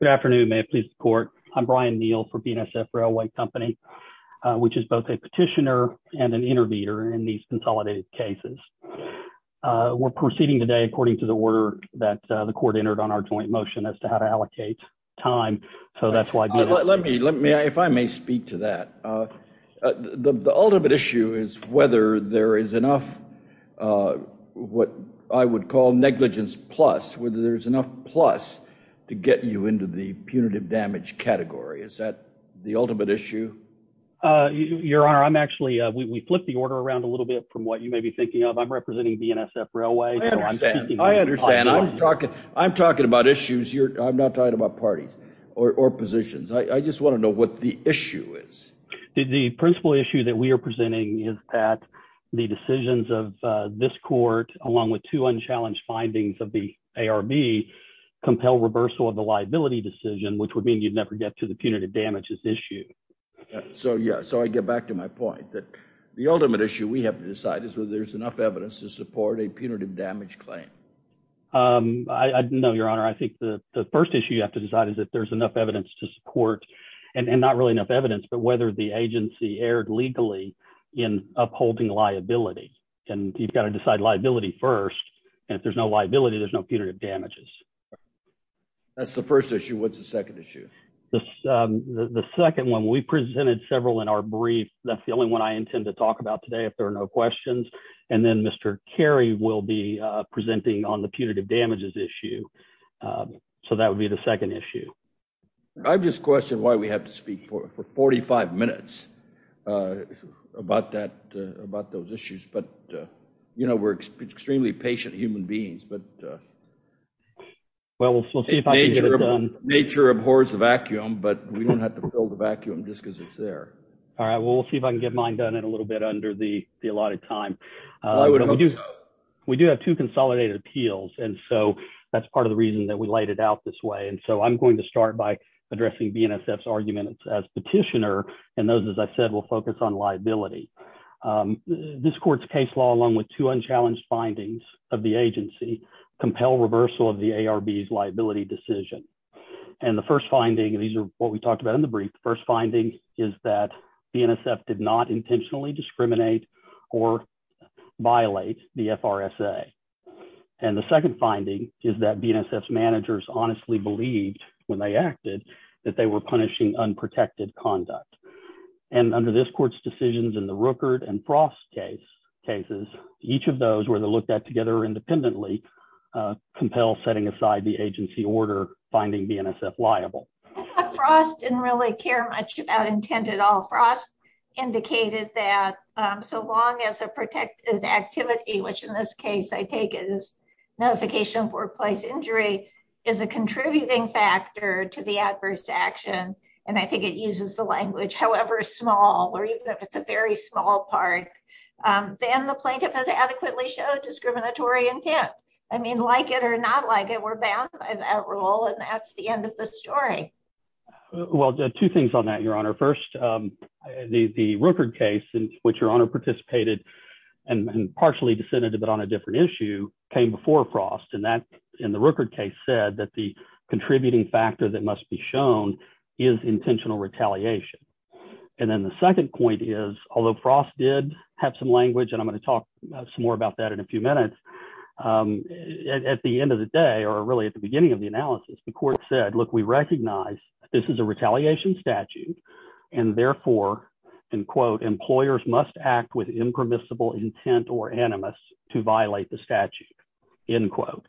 Good afternoon. May it please the court. I'm Brian Neal for BNSF Railway Company, which is both a petitioner and an interviewer in these consolidated cases. We're proceeding today according to the order that the court entered on our joint motion as to how to allocate time, so that's why... Let me, if I may speak to that. The ultimate issue is whether there is enough, what I would call negligence plus, whether there's enough plus to get you into the punitive damage category. Is that the ultimate issue? Your Honor, I'm actually... We flipped the order around a little bit from what you may be thinking of. I'm representing BNSF Railway. I understand. I understand. I'm talking about issues. I'm not talking about parties or positions. I just want to know what the issue is. The principal issue that we are presenting is that the decisions of this court, along with two unchallenged findings of the ARB, compel reversal of the liability decision, which would mean you'd never get to the punitive damages issue. So, yeah. So, I get back to my point that the ultimate issue we have to decide is whether there's enough evidence to support a punitive damage claim. No, Your Honor. I think the first issue you have to decide is if there's enough evidence to support, and not really enough evidence, but whether the agency erred legally in upholding liability. And you've got to decide liability first. And if there's no liability, there's no punitive damages. That's the first issue. What's the second issue? The second one, we presented several in our brief. That's the only one I intend to talk about today, if there are no questions. And then Mr. Carey will be presenting on the punitive damages issue. So, that would be the second issue. I've just questioned why we have to speak for 45 minutes. About that, about those issues. But, you know, we're extremely patient human beings, but... Well, we'll see if I can get it done. Nature abhors the vacuum, but we don't have to fill the vacuum just because it's there. All right. Well, we'll see if I can get mine done in a little bit under the allotted time. We do have two consolidated appeals. And so, that's part of the reason that we laid it out this way. And so, I'm going to start by addressing BNSF's argument as petitioner. And those, as I said, will focus on liability. This court's case law, along with two unchallenged findings of the agency, compel reversal of the ARB's liability decision. And the first finding, and these are what we talked about in the brief, the first finding is that BNSF did not intentionally discriminate or violate the FRSA. And the second finding is that BNSF's managers honestly believed, when they acted, that they were punishing unprotected conduct. And under this court's decisions in the Rookert and Frost cases, each of those were looked at together independently, compel setting aside the agency order, finding BNSF liable. Frost didn't really care much about intent at all. Frost indicated that so long as a protected activity, which in this case, I take it as notification of workplace injury, is a contributing factor to the adverse action. And I think it uses the language, however small, or even if it's a very small part, then the plaintiff has adequately showed discriminatory intent. I mean, like it or not like it, we're bound by that rule. And that's the end of the story. Well, two things on that, Your Honor. First, the Rookert case, in which Your Honor participated and partially dissented, but on a different issue, came before Frost. And that, in the Rookert case, said that the contributing factor that must be shown is intentional retaliation. And then the second point is, although Frost did have some language, and I'm going to talk some more about that in a few minutes, at the end of the day, or really at the beginning of the analysis, the court said, look, we recognize this is a retaliation statute. And therefore, end quote, employers must act with impermissible intent or animus to violate the statute, end quote.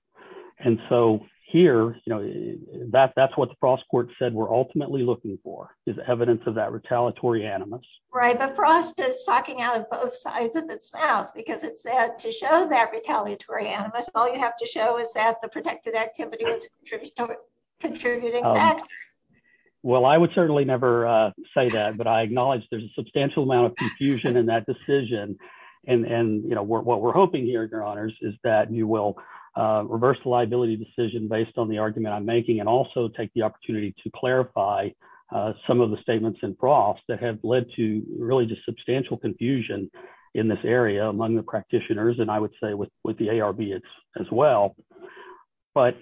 And so here, you know, that's what the Frost court said we're ultimately looking for, is evidence of that retaliatory animus. Right, but Frost is talking out of both sides of its mouth, because it said to show that retaliatory animus, all you have to show is that the protected activity was contributing factor. Well, I would certainly never say that, but I acknowledge there's a substantial amount of confusion in that decision. And, you know, what we're hoping here, Your Honors, is that you will reverse the liability decision based on the argument I'm making, and also take the opportunity to clarify some of the statements in Frost that have led to really just substantial confusion in this area among the practitioners, and I would say with the ARB as well. But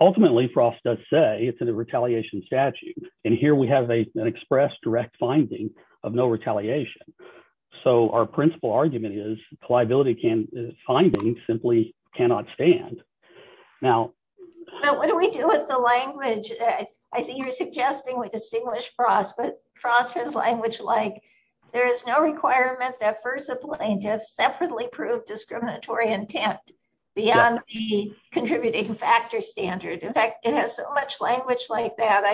ultimately, Frost does say it's a retaliation statute. And here we have an express direct finding of no retaliation. So our principal argument is, finding simply cannot stand. Now, what do we do with the language? I see you're suggesting we distinguish Frost, but Frost has language like, there is no requirement that first plaintiffs separately prove intent beyond the contributing factor standard. In fact, it has so much language like that,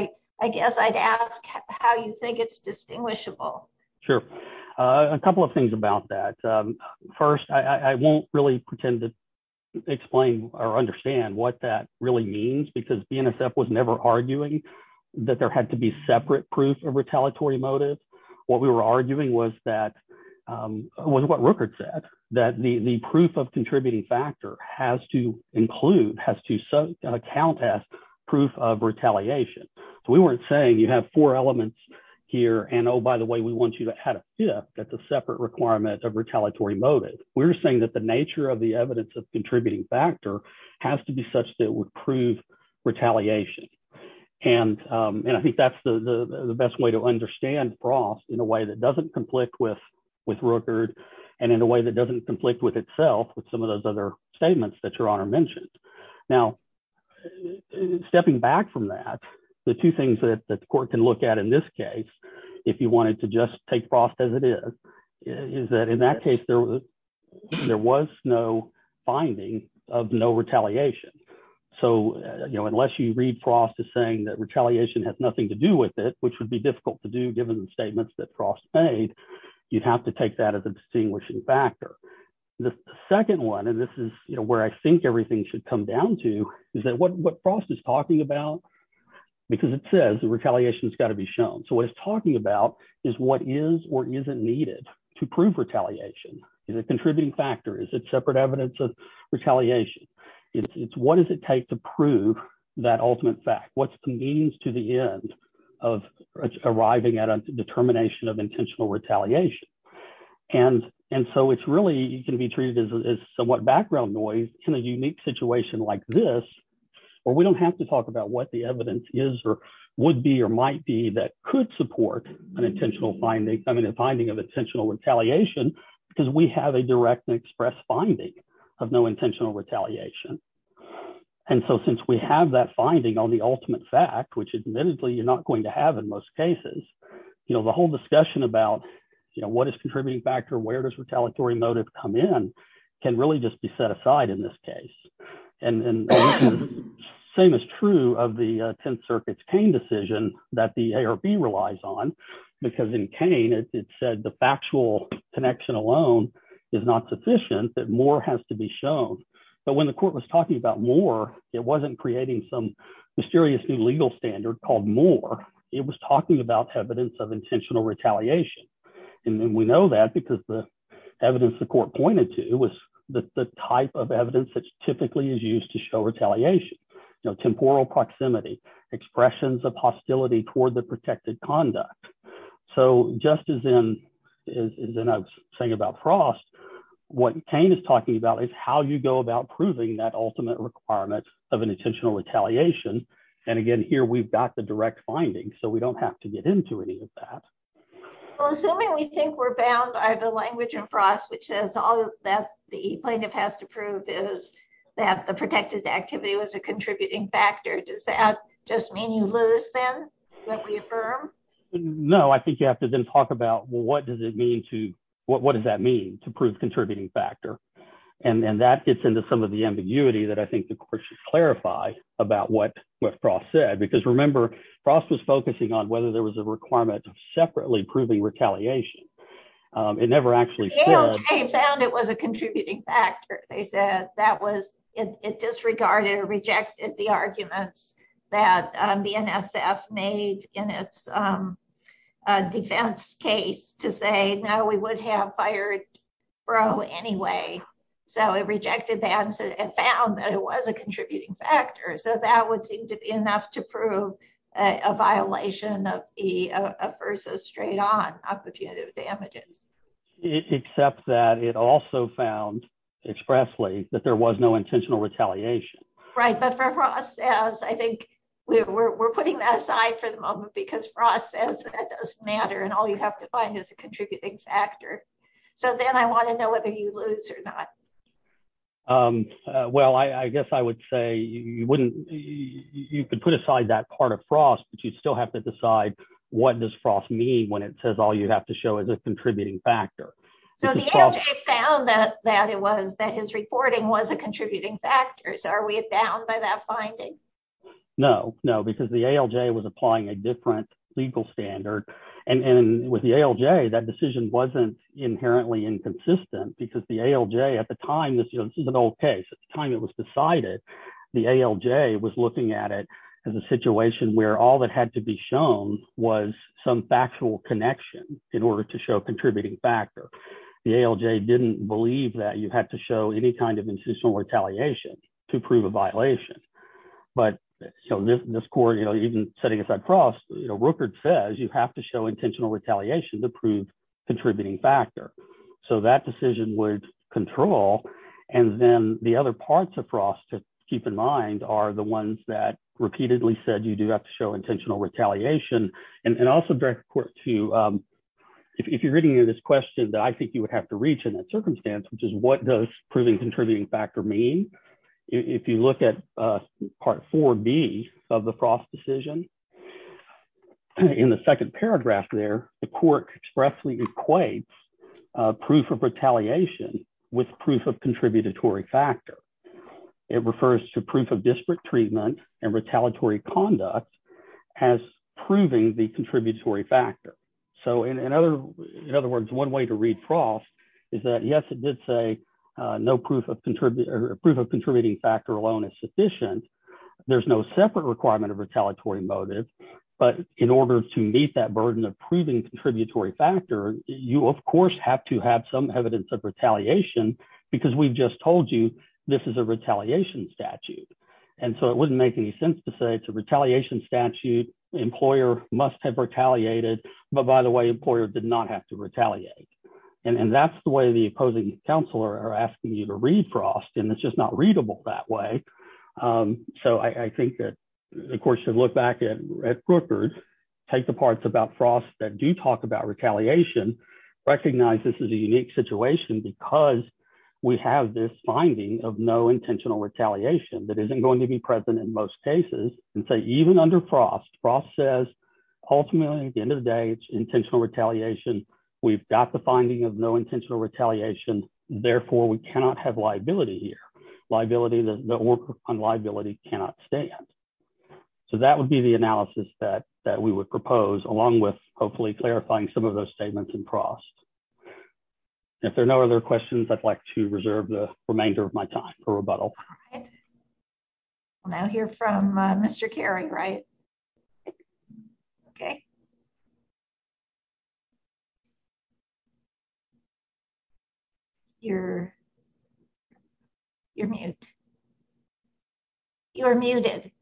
I guess I'd ask how you think it's distinguishable. Sure. A couple of things about that. First, I won't really pretend to explain or understand what that really means, because BNSF was never arguing that there had to be separate proof of retaliatory motive. What we were arguing was that, was what Rookert said, that the proof of contributing factor has to include, has to count as proof of retaliation. So we weren't saying you have four elements here, and oh, by the way, we want you to add a fifth, that's a separate requirement of retaliatory motive. We're saying that the nature of the evidence of contributing factor has to be such that it would prove retaliation. And I think that's the best way to understand Frost in a way that doesn't conflict with Rookert, and in a way that doesn't conflict with itself with some of those other statements that your honor mentioned. Now, stepping back from that, the two things that the court can look at in this case, if you wanted to just take Frost as it is, is that in that case, there was no finding of no retaliation. So, you know, unless you read Frost as saying that retaliation has nothing to do with it, which would be difficult to do, given the statements that Frost made, you'd have to take that as a distinguishing factor. The second one, and this is, you know, where I think everything should come down to, is that what Frost is talking about, because it says that retaliation has got to be shown. So what it's talking about is what is or isn't needed to prove retaliation. Is it a contributing factor? Is it separate evidence of retaliation? It's what does it take to prove that ultimate fact? What's the means to the end of arriving at a determination of intentional retaliation? And so it's really, it can be treated as somewhat background noise in a unique situation like this, where we don't have to talk about what the evidence is or would be or might be that could support an intentional finding, I mean a finding of intentional retaliation, because we have a direct and express finding of no intentional retaliation. And so since we have that finding on the ultimate fact, which admittedly you're not going to have in most cases, you know, the whole discussion about, you know, what is contributing factor, where does retaliatory motive come in, can really just be set aside in this case. And the same is true of the Tenth Circuit's Kane decision that the ARB relies on, because in Kane it said the factual connection alone is not sufficient, that more has to be shown. But when the court was talking about more, it wasn't creating some mysterious new legal standard called more, it was talking about evidence of intentional retaliation. And we know that because the evidence the court pointed to was the type of evidence that typically is used to show retaliation, you know, temporal proximity, expressions of hostility toward the protected conduct. So just as in, as I was saying about of an intentional retaliation. And again, here we've got the direct finding, so we don't have to get into any of that. Well, assuming we think we're bound by the language in Frost, which says all that the plaintiff has to prove is that the protected activity was a contributing factor. Does that just mean you lose then that we affirm? No, I think you have to then talk about, well, what does it mean to, what does that mean to prove contributing factor? And then that gets into some of the ambiguity that I think the court should clarify about what Frost said, because remember, Frost was focusing on whether there was a requirement of separately proving retaliation. It never actually... Yale found it was a contributing factor, they said. That was, it disregarded or rejected the anyway. So it rejected the answer and found that it was a contributing factor. So that would seem to be enough to prove a violation of versus straight on occupative damages. Except that it also found expressly that there was no intentional retaliation. Right. But for Frost, I think we're putting that aside for the moment because Frost says that doesn't matter and all you have to find is a contributing factor. So then I want to know whether you lose or not. Well, I guess I would say you wouldn't, you could put aside that part of Frost, but you still have to decide what does Frost mean when it says all you have to show is a contributing factor. So the ALJ found that it was, that his reporting was a contributing factor. So are we bound by that finding? No, no, because the ALJ was applying a different legal standard. And with the ALJ, that decision wasn't inherently inconsistent because the ALJ at the time, this is an old case, at the time it was decided, the ALJ was looking at it as a situation where all that had to be shown was some factual connection in order to show contributing factor. The ALJ didn't believe that you had to show any kind of intentional retaliation to prove a violation. But so this court, you know, even setting aside Frost, you know, Rupert says you have to show intentional retaliation to prove contributing factor. So that decision would control. And then the other parts of Frost to keep in mind are the ones that repeatedly said you do have to show intentional retaliation and also direct court to, if you're reading this question that I think you would have to reach in that circumstance, which is what does proving contributing factor mean? If you look at part 4B of the Frost decision, in the second paragraph there, the court expressly equates proof of retaliation with proof of contributory factor. It refers to proof of disparate treatment and retaliatory conduct as proving the contributory factor. So in other words, one way to read Frost is that yes, it did say no proof of contributing factor alone is sufficient. There's no separate requirement of retaliatory motive. But in order to meet that burden of proving contributory factor, you of course have to have some evidence of retaliation because we've just told you this is a retaliation statute. And so it wouldn't make any sense to say it's a retaliation statute. Employer must have retaliated. But by the way, employer did not have to retaliate. And that's the way the opposing counsel are asking you to read Frost. And it's just not readable that way. So I think that the court should look back at Brooker's, take the parts about Frost that do talk about retaliation, recognize this is a unique situation because we have this finding of no intentional retaliation that isn't going to be present in most cases. And so even under Frost, Frost says ultimately at the end of the day, it's intentional retaliation. We've got the finding of no intentional retaliation. Therefore, we cannot have liability here. Liability, the work on liability cannot stand. So that would be the analysis that we would propose along with hopefully clarifying some of those statements in Frost. If there are no other questions, I'd like to reserve the remainder of my time for rebuttal. All right. I'll now hear from Mr. Carey, right? Okay. You're, you're mute. You're muted.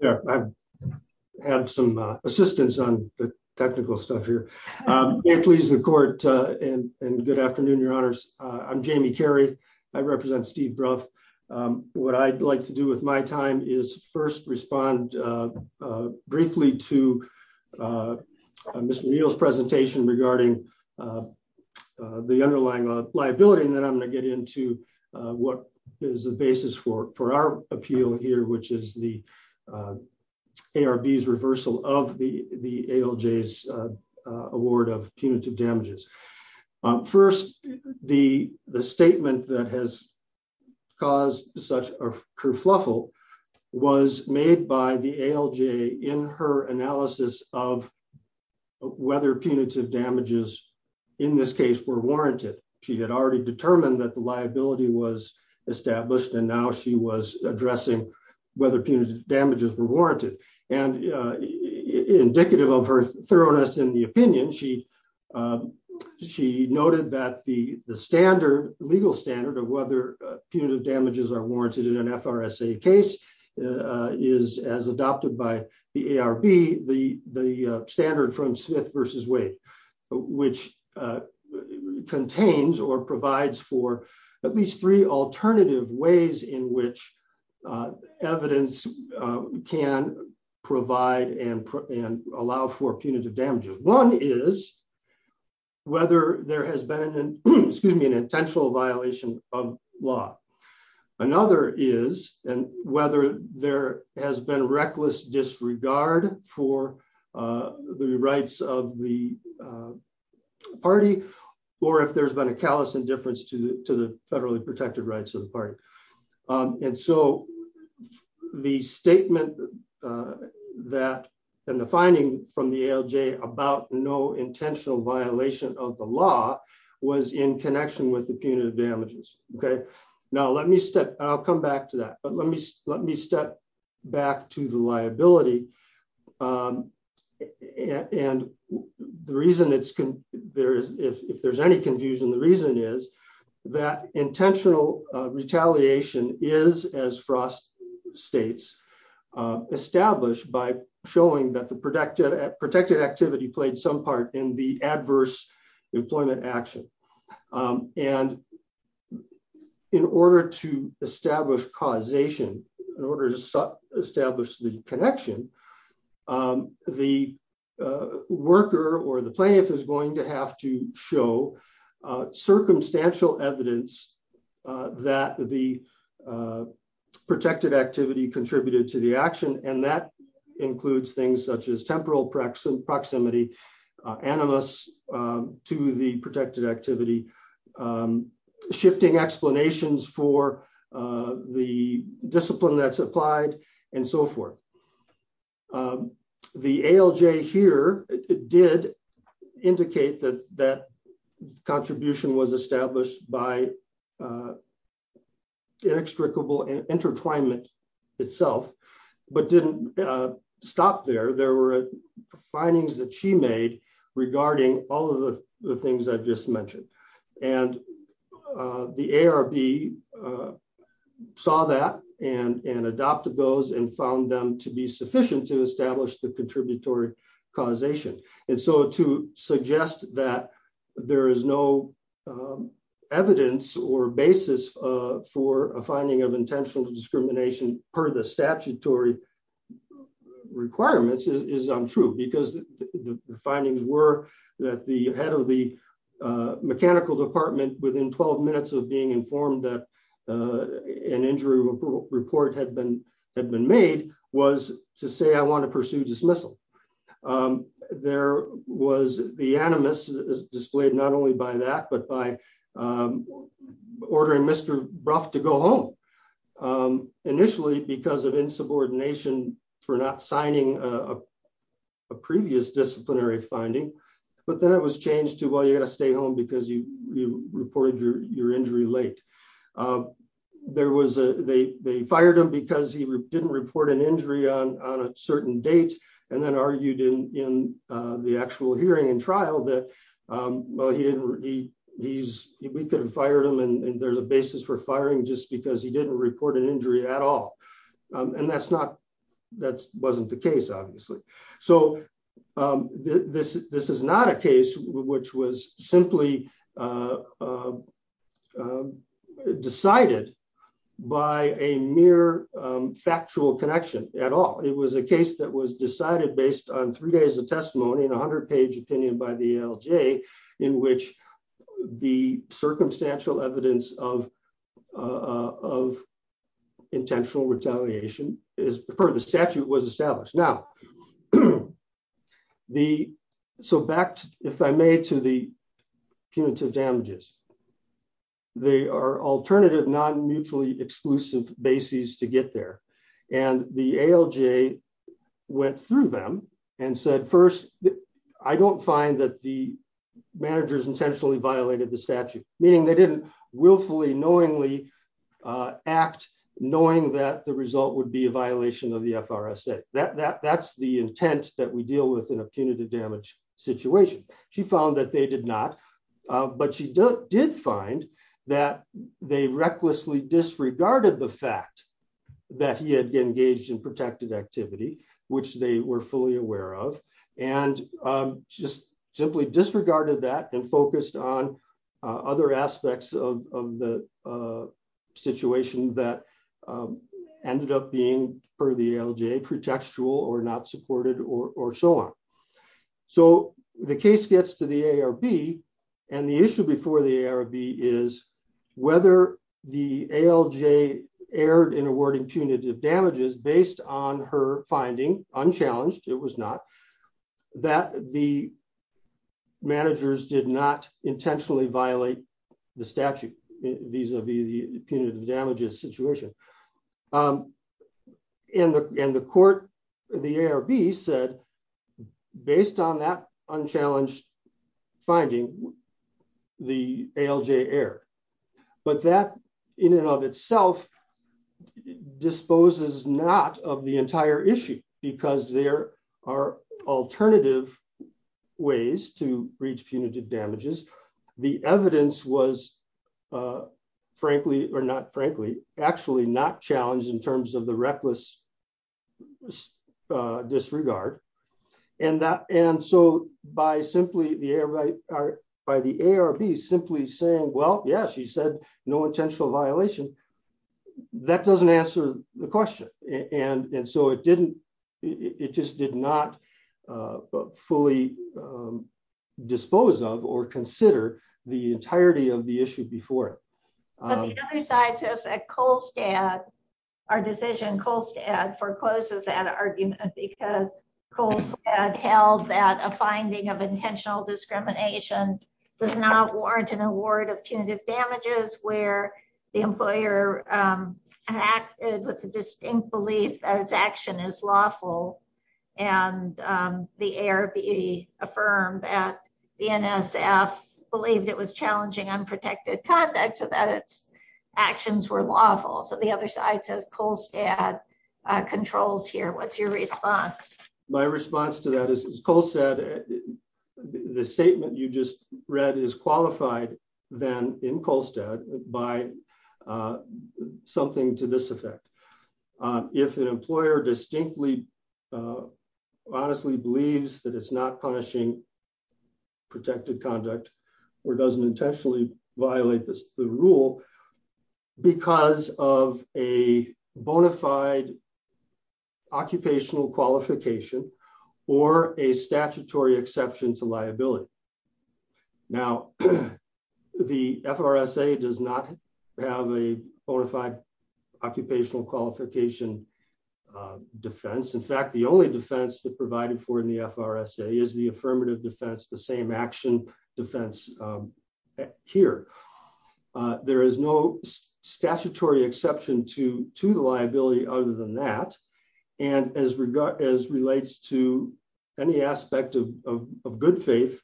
Yeah, I've had some assistance on the technical stuff here. Please, the court and good afternoon, your honors. I'm Jamie Carey. I represent Steve Ruff. What I'd like to do with my time is first respond briefly to Mr. Neal's presentation regarding the underlying liability. And then I'm going to get into what is the basis for, for our appeal here, which is the ARB's reversal of the, ALJ's award of punitive damages. First, the, the statement that has caused such a kerfuffle was made by the ALJ in her analysis of whether punitive damages in this case were warranted. She had already determined that the liability was established and now she was addressing whether punitive damages were warranted and indicative of her thoroughness in the opinion. She, she noted that the, the standard legal standard of whether punitive damages are warranted in an FRSA case is as adopted by the ARB, the, the standard from Smith versus Wade, which contains or provides for at least three alternative ways in which evidence can provide and, and allow for punitive damages. One is whether there has been an, excuse me, an intentional violation of law. Another is, and whether there has been reckless disregard for the rights of the party. And so the statement that, and the finding from the ALJ about no intentional violation of the law was in connection with the punitive damages. Okay. Now let me step, I'll come back to that, but let me, let me step back to the liability. And the reason it's, there is, if there's any confusion, the reason is that intentional retaliation is, as Frost states, established by showing that the protected, protected activity played some part in the adverse employment action. And in order to establish causation, in order to establish the connection, the worker or the plaintiff is going to have to show circumstantial evidence that the protected activity contributed to the action. And that includes things such as temporal proximity, animus to the protected activity, shifting explanations for the discipline that's applied and so forth. The ALJ here did indicate that that contribution was established by inextricable intertwinement itself, but didn't stop there. There were findings that she made regarding all of the things I've just mentioned. And the ARB saw that and adopted those and found them to be sufficient to establish the contributory causation. And so to suggest that there is no evidence or basis for a finding of intentional discrimination per the statutory requirements is untrue because the findings were that the head of mechanical department, within 12 minutes of being informed that an injury report had been made, was to say, I want to pursue dismissal. There was the animus displayed not only by that, but by ordering Mr. Brough to go home, initially because of insubordination for not signing a disciplinary finding, but then it was changed to, well, you got to stay home because you reported your injury late. They fired him because he didn't report an injury on a certain date, and then argued in the actual hearing and trial that, well, we could have fired him and there's a basis for firing just because he didn't report an injury at all. And that wasn't the case, obviously. So this is not a case which was simply decided by a mere factual connection at all. It was a case that was decided based on three days of testimony and 100 page opinion by the ALJ, in which the circumstantial evidence of intentional retaliation per the statute was established. Now, so back, if I may, to the punitive damages. They are alternative, non-mutually exclusive bases to get there. And the ALJ went through them and said, first, I don't find that the managers intentionally violated the statute, meaning they didn't willfully, knowingly act, knowing that the result would be a violation of the FRSA. That's the intent that we deal with in a punitive damage situation. She found that they did not, but she did find that they recklessly disregarded the fact that he had engaged in protected activity, which they were fully aware of, and just simply disregarded that and focused on other aspects of the situation that ended up being, per the ALJ, pretextual or not supported or so on. So the case gets to the ARB. And the issue before the ARB is whether the ALJ erred in awarding punitive damages based on her finding, unchallenged, it was not, that the managers did not intentionally violate the statute vis-a-vis the punitive damages situation. And the court, the ARB said, based on that unchallenged finding, the ALJ erred. But that in and of itself disposes not of the entire issue, because there are alternative ways to reach punitive damages. The evidence was frankly, or not frankly, actually not challenged in terms of the reckless disregard. And that, and so by simply the ARB, by the ARB simply saying, well, yeah, she said no intentional violation, that doesn't answer the question. And so it didn't, it just did not fully dispose of or consider the entirety of the issue before it. But the other side says that Kolstad, our decision, Kolstad forecloses that argument, because Kolstad held that a finding of intentional discrimination does not warrant an award of punitive damages where the employer acted with the distinct belief that its action is lawful. And the ARB affirmed that the NSF believed it was challenging unprotected conduct, so that its actions were lawful. So the other side says Kolstad controls here. What's your response? My response to that is Kolstad, the statement you just read is qualified then in Kolstad by something to this effect. If an employer distinctly, honestly believes that it's not violate the rule, because of a bona fide occupational qualification, or a statutory exception to liability. Now, the FRSA does not have a bona fide occupational qualification defense. In fact, the only defense that provided for in the FRSA is the affirmative defense, the same action defense here. There is no statutory exception to the liability other than that. And as regards as relates to any aspect of good faith,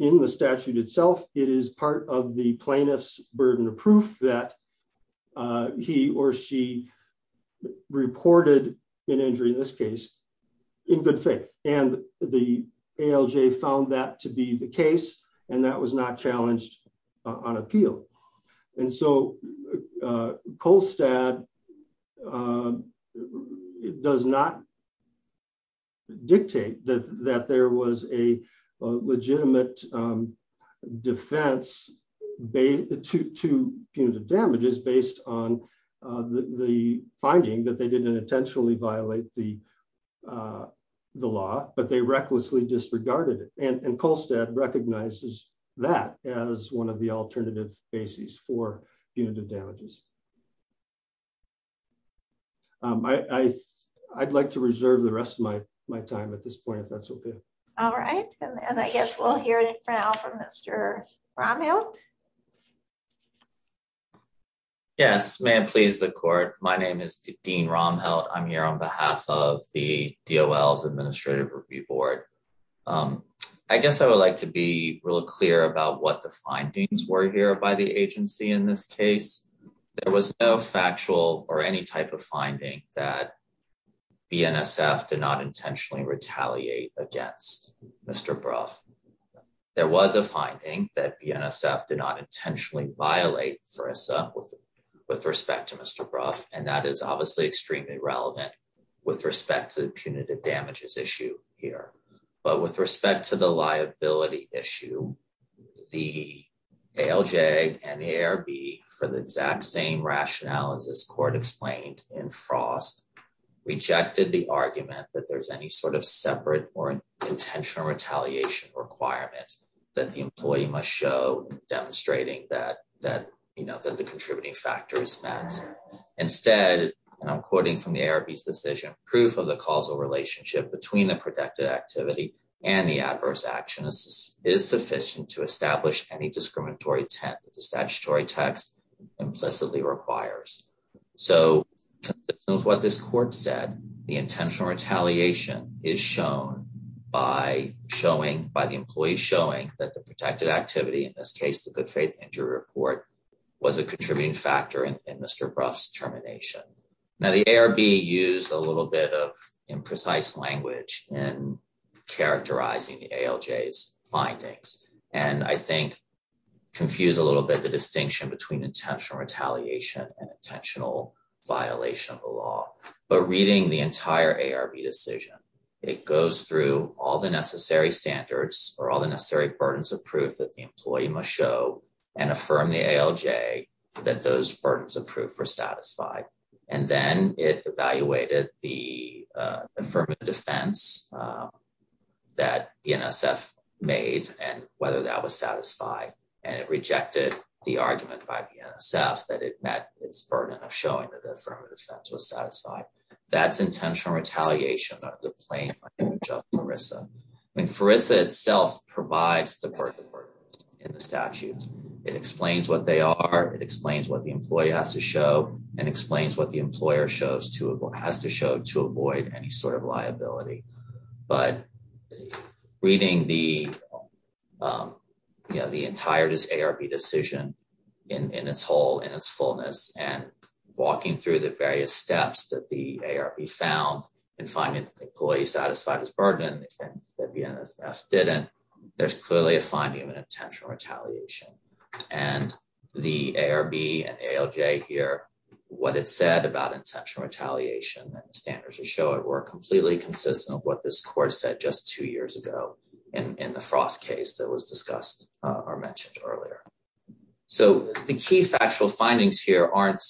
in the statute itself, it is part of the plaintiff's burden of proof that he or she reported an injury in this case, in good faith, and the ALJ found that to be the case, and that was not challenged on appeal. And so Kolstad does not dictate that there was a legitimate defense to punitive damages based on the finding that they didn't intentionally violate the law, but they recklessly disregarded it. And Kolstad recognizes that as one of the alternative basis for punitive damages. I'd like to reserve the rest of my time at this point, if that's okay. All right. And I guess we'll hear it for now from Mr. Rommel. Yes, ma'am, please the court. My name is Dean Rommel. I'm here on behalf of the DOL's Administrative Review Board. I guess I would like to be real clear about what the findings were here by the agency in this case. There was no factual or any type of finding that BNSF did not intentionally retaliate against Mr. Brough. There was a finding that BNSF did not intentionally violate FRSA with respect to Mr. Brough, and that is obviously extremely relevant with respect to the punitive damages issue here. But with respect to the liability issue, the ALJ and the ARB, for the exact same rationale as this court explained in Frost, rejected the argument that there's any separate or intentional retaliation requirement that the employee must show demonstrating that the contributing factor is met. Instead, and I'm quoting from the ARB's decision, proof of the causal relationship between the protected activity and the adverse action is sufficient to establish any discriminatory intent that the statutory text implicitly requires. So, consistent with what this court said, the intentional retaliation is shown by showing, by the employee showing, that the protected activity, in this case the good faith injury report, was a contributing factor in Mr. Brough's termination. Now the ARB used a little bit of imprecise language in characterizing the ALJ's findings, and I think confused a little bit the violation of the law. But reading the entire ARB decision, it goes through all the necessary standards, or all the necessary burdens of proof that the employee must show, and affirm the ALJ that those burdens of proof were satisfied. And then it evaluated the affirmative defense that the NSF made and whether that was satisfied, and it rejected the argument by the NSF that it showed that the affirmative defense was satisfied. That's intentional retaliation, not the plain language of FRISA. I mean, FRISA itself provides the burden in the statute. It explains what they are, it explains what the employee has to show, and explains what the employer has to show to avoid any sort of liability. But reading the entire ARB decision in its whole, in its fullness, and walking through the various steps that the ARB found in finding that the employee satisfied his burden, and the NSF didn't, there's clearly a finding of an intentional retaliation. And the ARB and ALJ here, what it said about intentional retaliation and the standards that show it, were completely consistent with what this court said just two earlier. So the key factual findings here aren't,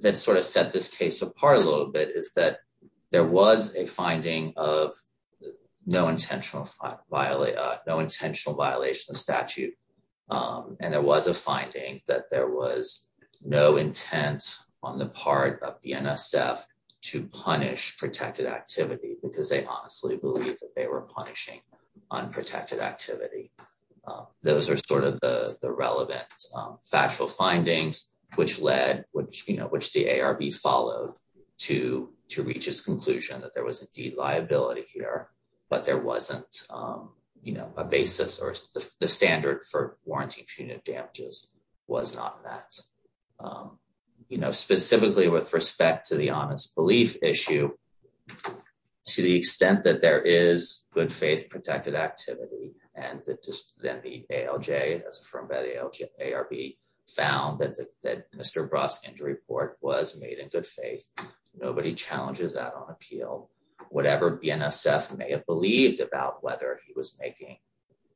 that sort of set this case apart a little bit, is that there was a finding of no intentional violation of statute. And there was a finding that there was no intent on the part of the NSF to punish protected activity, because they honestly believed that they were punishing unprotected activity. Those are sort of the relevant factual findings which led, which the ARB followed to reach its conclusion that there was indeed liability here, but there wasn't a basis or the standard for warranting punitive damages was not met. Specifically with respect to the honest belief issue, to the extent that there is good faith protected activity, and that just then the ALJ, as affirmed by the ARB, found that Mr. Brough's injury report was made in good faith, nobody challenges that on appeal. Whatever the NSF may have believed about whether he was making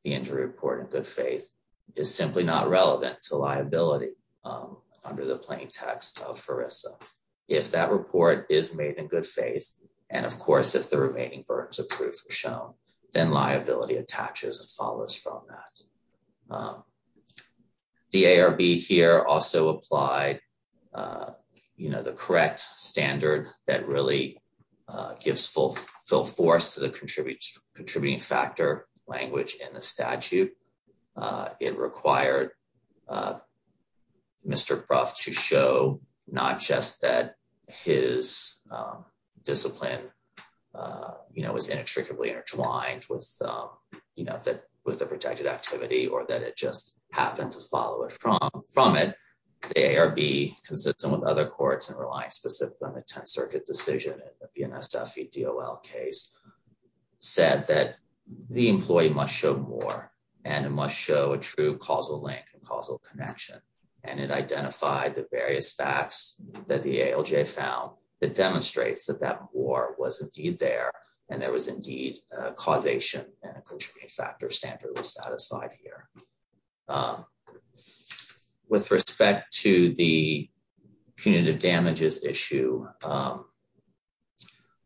the injury report in good faith is simply not relevant to liability under the plain text of FERRISA. If that report is made in good faith, and of course if the remaining burdens of proof are shown, then liability attaches and follows from that. The ARB here also applied, you know, the correct standard that really gives full force to the contributing factor language in the statute. It required Mr. Brough to show not just that his discipline, you know, was inextricably intertwined with, you know, that with the protected activity or that it just happened to follow it from it. The ARB, consistent with other courts and relying specifically on the 10th Circuit decision of the NSF v. DOL case, said that the employee must show more, and it must show a true causal link and causal connection. And it identified the various facts that the ALJ found that demonstrates that that more was indeed there, and there was indeed a causation and a contributing factor satisfied here. With respect to the punitive damages issue,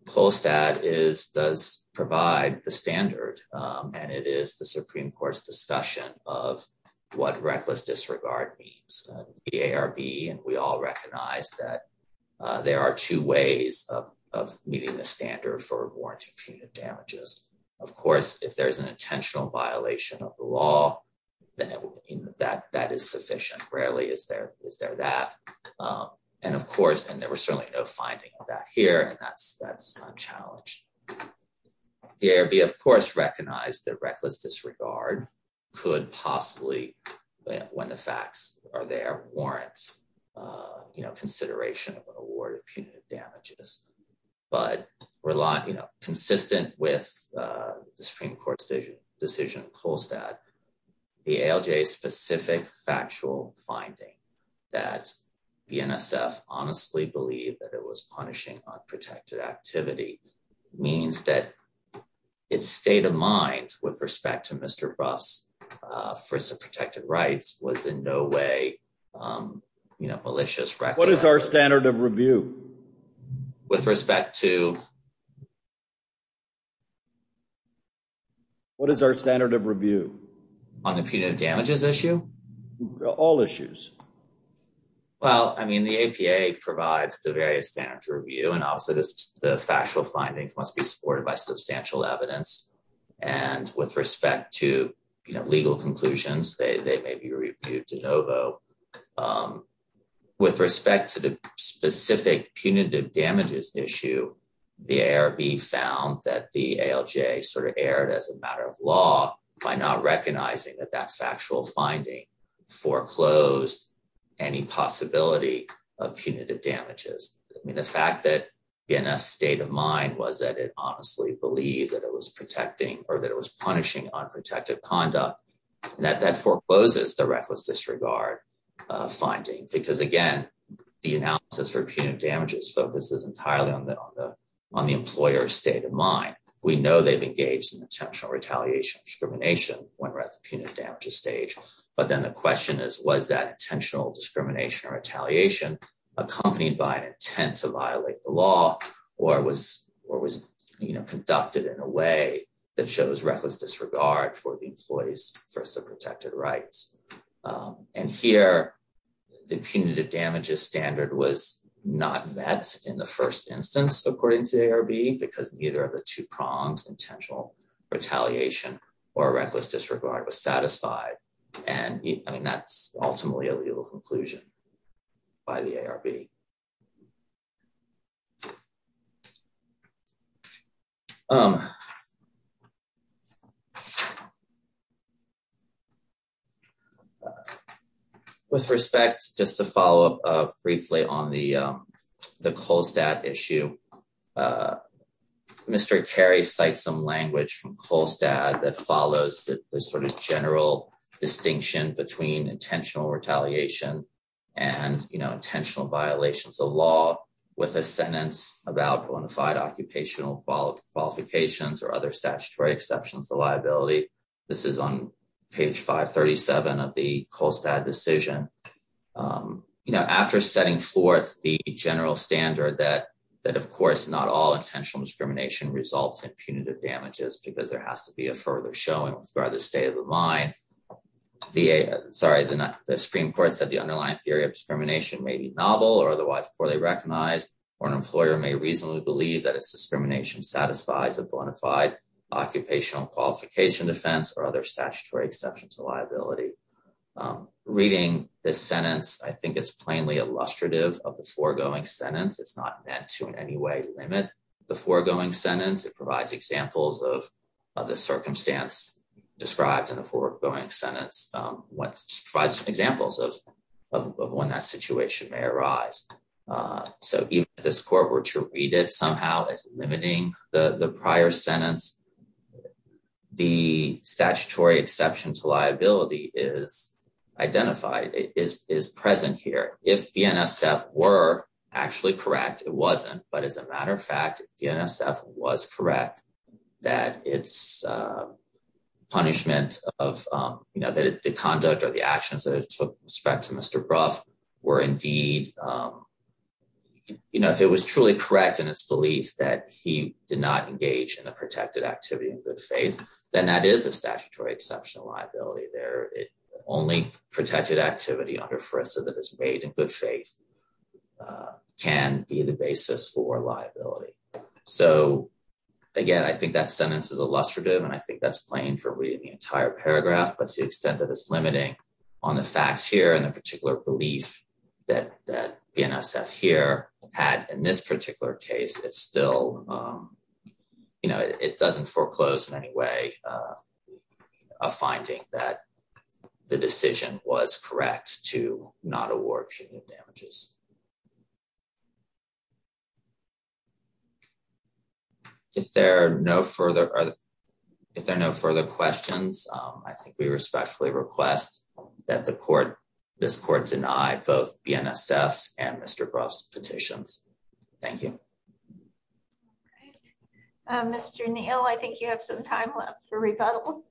Polstat does provide the standard, and it is the Supreme Court's discussion of what reckless disregard means. The ARB and we all recognize that there are two ways of meeting the standard for warranted punitive damages. Of course, if there's an intentional violation of the law, then that is sufficient. Rarely is there that. And of course, and there was certainly no finding of that here, and that's unchallenged. The ARB, of course, recognized that reckless disregard could possibly, when the facts are there, warrant, you know, consideration of an consistent with the Supreme Court's decision of Polstat, the ALJ's specific factual finding that the NSF honestly believed that it was punishing unprotected activity means that its state of mind with respect to Mr. Brough's frizz of protected rights was in no way, you know, malicious. What is our standard of review? With respect to what is our standard of review on the punitive damages issue? All issues. Well, I mean, the APA provides the various standards review, and also the factual findings must be supported by substantial evidence. And with respect to, you know, legal conclusions, they may be reviewed de novo. With respect to the specific punitive damages issue, the ARB found that the ALJ sort of erred as a matter of law by not recognizing that that factual finding foreclosed any possibility of punitive damages. I mean, the fact that in a state of mind was that it honestly believed that it was protecting or that it was punishing unprotected conduct, and that that forecloses the reckless disregard finding. Because again, the analysis for punitive damages focuses entirely on the employer's state of mind. We know they've engaged in intentional retaliation discrimination when we're at the punitive damages stage. But then the question is, was that intentional discrimination or retaliation accompanied by an intent to violate the law, or was, you know, conducted in a way that shows reckless disregard for the employee's first of protected rights. And here, the punitive damages standard was not met in the first instance, according to the ARB, because neither of the two prongs intentional retaliation or reckless disregard was satisfied. And I mean, that's ultimately a legal conclusion by the ARB. With respect, just to follow up briefly on the, the Colstead issue. Mr. Carey cite some language from Colstead that follows the sort of general distinction between intentional retaliation and, you know, intentional violations of law with a sentence about bona fide or statutory exceptions to liability. This is on page 537 of the Colstead decision. You know, after setting forth the general standard that, that of course, not all intentional discrimination results in punitive damages, because there has to be a further showing with regard to the state of the mind. VA, sorry, the Supreme Court said the underlying theory of discrimination may be novel or otherwise poorly recognized, or an employer may reasonably believe that it's discrimination satisfies a bona fide occupational qualification defense or other statutory exceptions to liability. Reading this sentence, I think it's plainly illustrative of the foregoing sentence, it's not meant to in any way limit the foregoing sentence, it provides examples of the circumstance described in the foregoing sentence, what provides some examples of when that situation may arise. So even if this court were to read it somehow as limiting the prior sentence, the statutory exception to liability is identified, is present here. If the NSF were actually correct, it wasn't, but as a matter of fact, the NSF was correct, that it's punishment of, you know, that the conduct or the actions that it took with respect to Mr. Brough were indeed, you know, if it was truly correct in its belief that he did not engage in a protected activity in good faith, then that is a statutory exception to liability there. Only protected activity under FRISA that is made in good faith can be the basis for liability. So again, I think that sentence is illustrative and I think that's plain for reading the entire paragraph, but to the extent that it's limiting on the facts here and the particular belief that NSF here had in this particular case, it's still, you know, it doesn't foreclose in any way a finding that the decision was correct to not award punitive damages. If there are no further questions, I think we respectfully request that the court, this court deny both the NSF's and Mr. Brough's petitions. Thank you. Okay. Mr. Neal, I think you have some time left for rebuttal.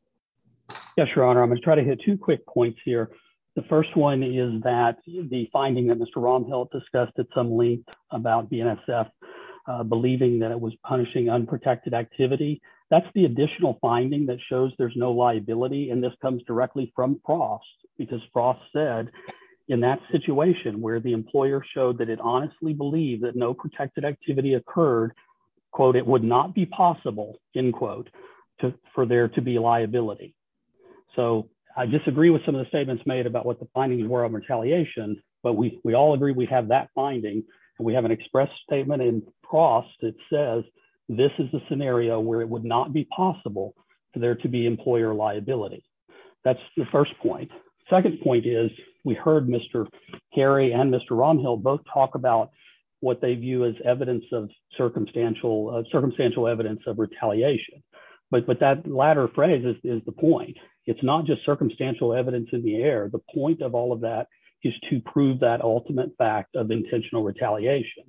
Yes, Your Honor. I'm going to try to hit two quick points here. The first one is that the finding that Mr. Romhill discussed at some length about the NSF believing that it was punishing unprotected activity, that's the additional finding that shows there's no liability and this comes directly from Frost because Frost said in that situation where the employer showed that it honestly believed that no protected activity occurred, quote, it would not be possible, end quote, for there to be liability. So I disagree with some of the statements made about what the findings were of retaliation, but we all agree we have that finding and we have an express statement in Frost that says this is the scenario where it would not be possible for there to be employer liability. That's the first point. Second point is we heard Mr. Harry and Mr. Romhill both talk about what they view as circumstantial evidence of retaliation, but that latter phrase is the point. It's not just circumstantial evidence in the air. The point of all of that is to prove that ultimate fact of intentional retaliation.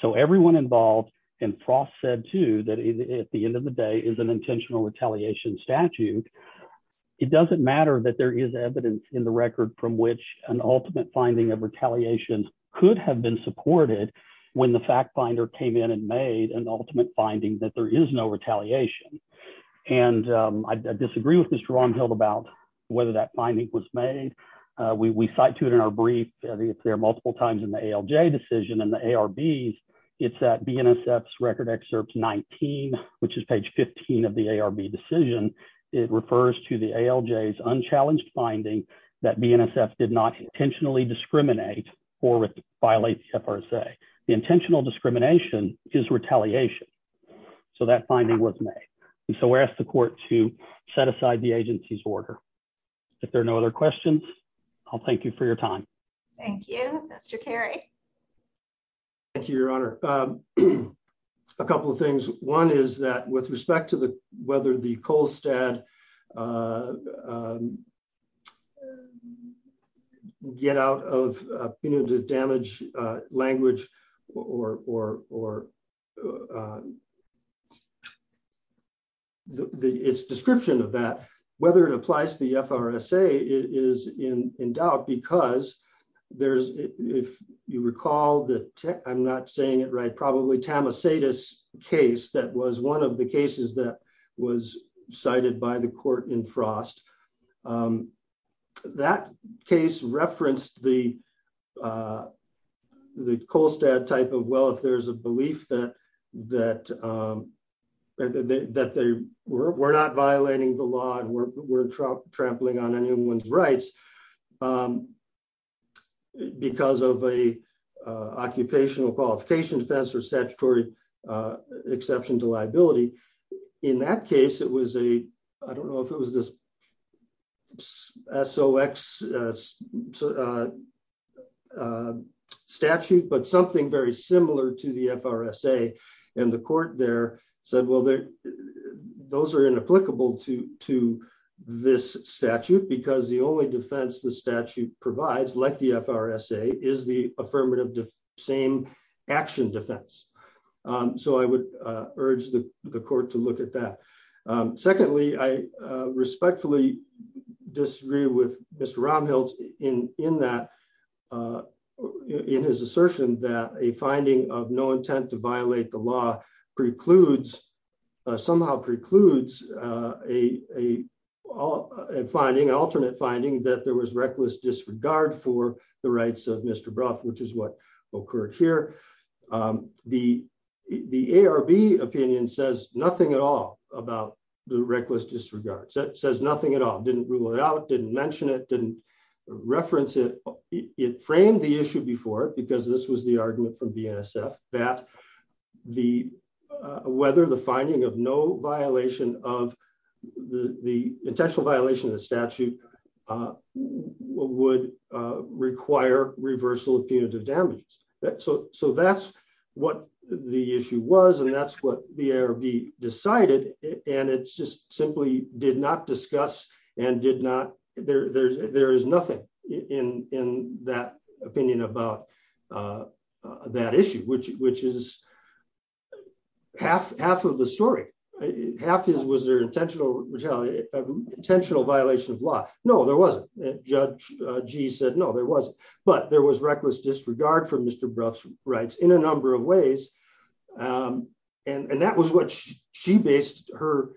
So everyone involved, and Frost said too, that at the end of the day is an intentional retaliation statute. It doesn't matter that there is evidence in the record from which an ultimate finding of retaliation could have been supported when the fact finder came in and made an ultimate finding that there is no retaliation. And I disagree with Mr. Romhill about whether that finding was made. We cite to it in our brief if there are multiple times in the ALJ decision and the ARBs, it's at BNSF's record excerpt 19, which is page 15 of the ARB decision. It refers to the ALJ's challenge finding that BNSF did not intentionally discriminate or violate the FRSA. The intentional discrimination is retaliation. So that finding was made. And so we ask the court to set aside the agency's order. If there are no other questions, I'll thank you for your time. Thank you. Mr. Carey. Thank you, your honor. A couple of things. One is that with respect to whether the Kolstad can get out of punitive damage language or its description of that, whether it applies to the FRSA is in doubt, because there's, if you recall, I'm not saying it right, probably Tamasetis case that was one of the cases that was cited by the court in Frost. That case referenced the Kolstad type of, well, if there's a belief that we're not violating the law and we're trampling on anyone's rights because of a occupational qualification defense or statutory exception to liability. In that case, it was a, I don't know if it was this SOX statute, but something very similar to the FRSA. And the court there said, well, those are provides like the FRSA is the affirmative same action defense. So I would urge the court to look at that. Secondly, I respectfully disagree with Mr. Romhill in that, in his assertion that a finding of no intent to violate the law precludes, somehow precludes a finding, alternate finding that there was reckless disregard for the rights of Mr. Brough, which is what occurred here. The ARB opinion says nothing at all about the reckless disregard, says nothing at all, didn't rule it out, didn't mention it, didn't reference it. It framed the issue before, because this was the argument from BNSF, that the, whether the finding of no violation of the intentional violation of the statute would require reversal of punitive damages. So that's what the issue was, and that's what the ARB decided. And it's just simply did not discuss and did not, there is nothing in that opinion about that issue, which is half of the story. Half is, was there an intentional violation of law? No, there wasn't. Judge Gee said, no, there wasn't. But there was reckless disregard for Mr. Brough's rights in a number of ways. And that was what she based her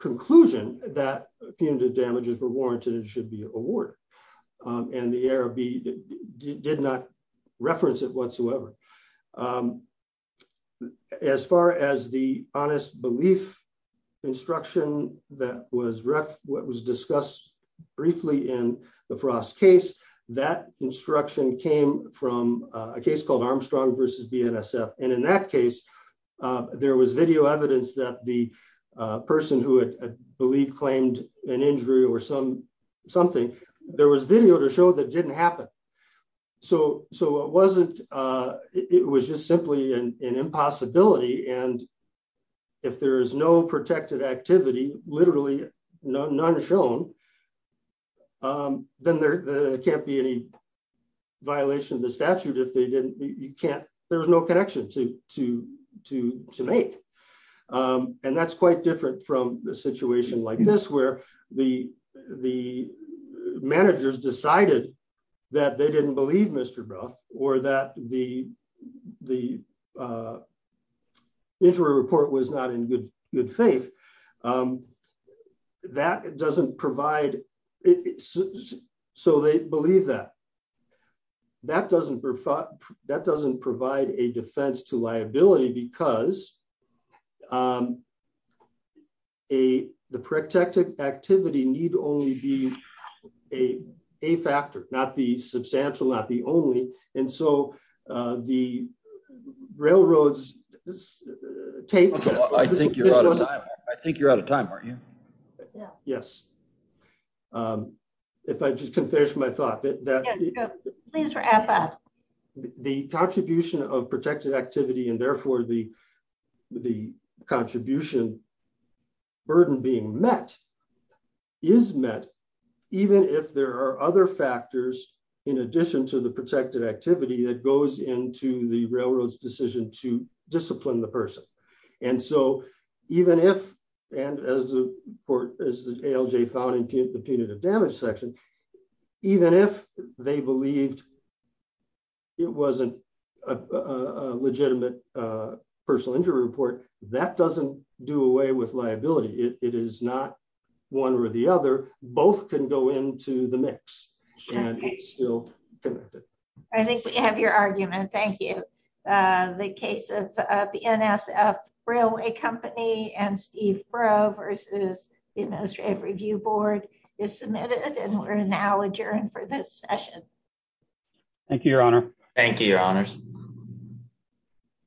conclusion, that punitive damages were warranted and should be awarded. And the ARB did not reference it whatsoever. As far as the honest belief instruction that was discussed briefly in the Frost case, that instruction came from a case called Armstrong versus BNSF. And in that case, there was video evidence that the person who had believed claimed an injury or something, there was video to show that didn't happen. So it wasn't, it was just simply an impossibility. And if there is no protected activity, literally none shown, then there can't be any violation of the statute if they didn't, you can't, there was no connection to make. And that's quite different from the situation like this, where the managers decided that they didn't believe Mr. Brough or that the injury report was not in good faith. That doesn't provide, so they believe that. That doesn't provide a defense to liability because the protected activity need only be a factor, not the substantial, not the only. And so the you're out of time, aren't you? Yeah. Yes. If I just can finish my thought. The contribution of protected activity and therefore the contribution burden being met is met even if there are other factors in addition to the protected activity that goes into the railroad's decision to discipline the person. And so even if, and as the ALJ found in the punitive damage section, even if they believed it wasn't a legitimate personal injury report, that doesn't do away with liability. It is not one or the other, both can go into the mix. And it's still connected. I think we have your argument. Thank you. The case of the NSF Railway Company and Steve Brough versus the Administrative Review Board is submitted and we're now adjourned for this session. Thank you, Your Honor. Thank you, Your Honors.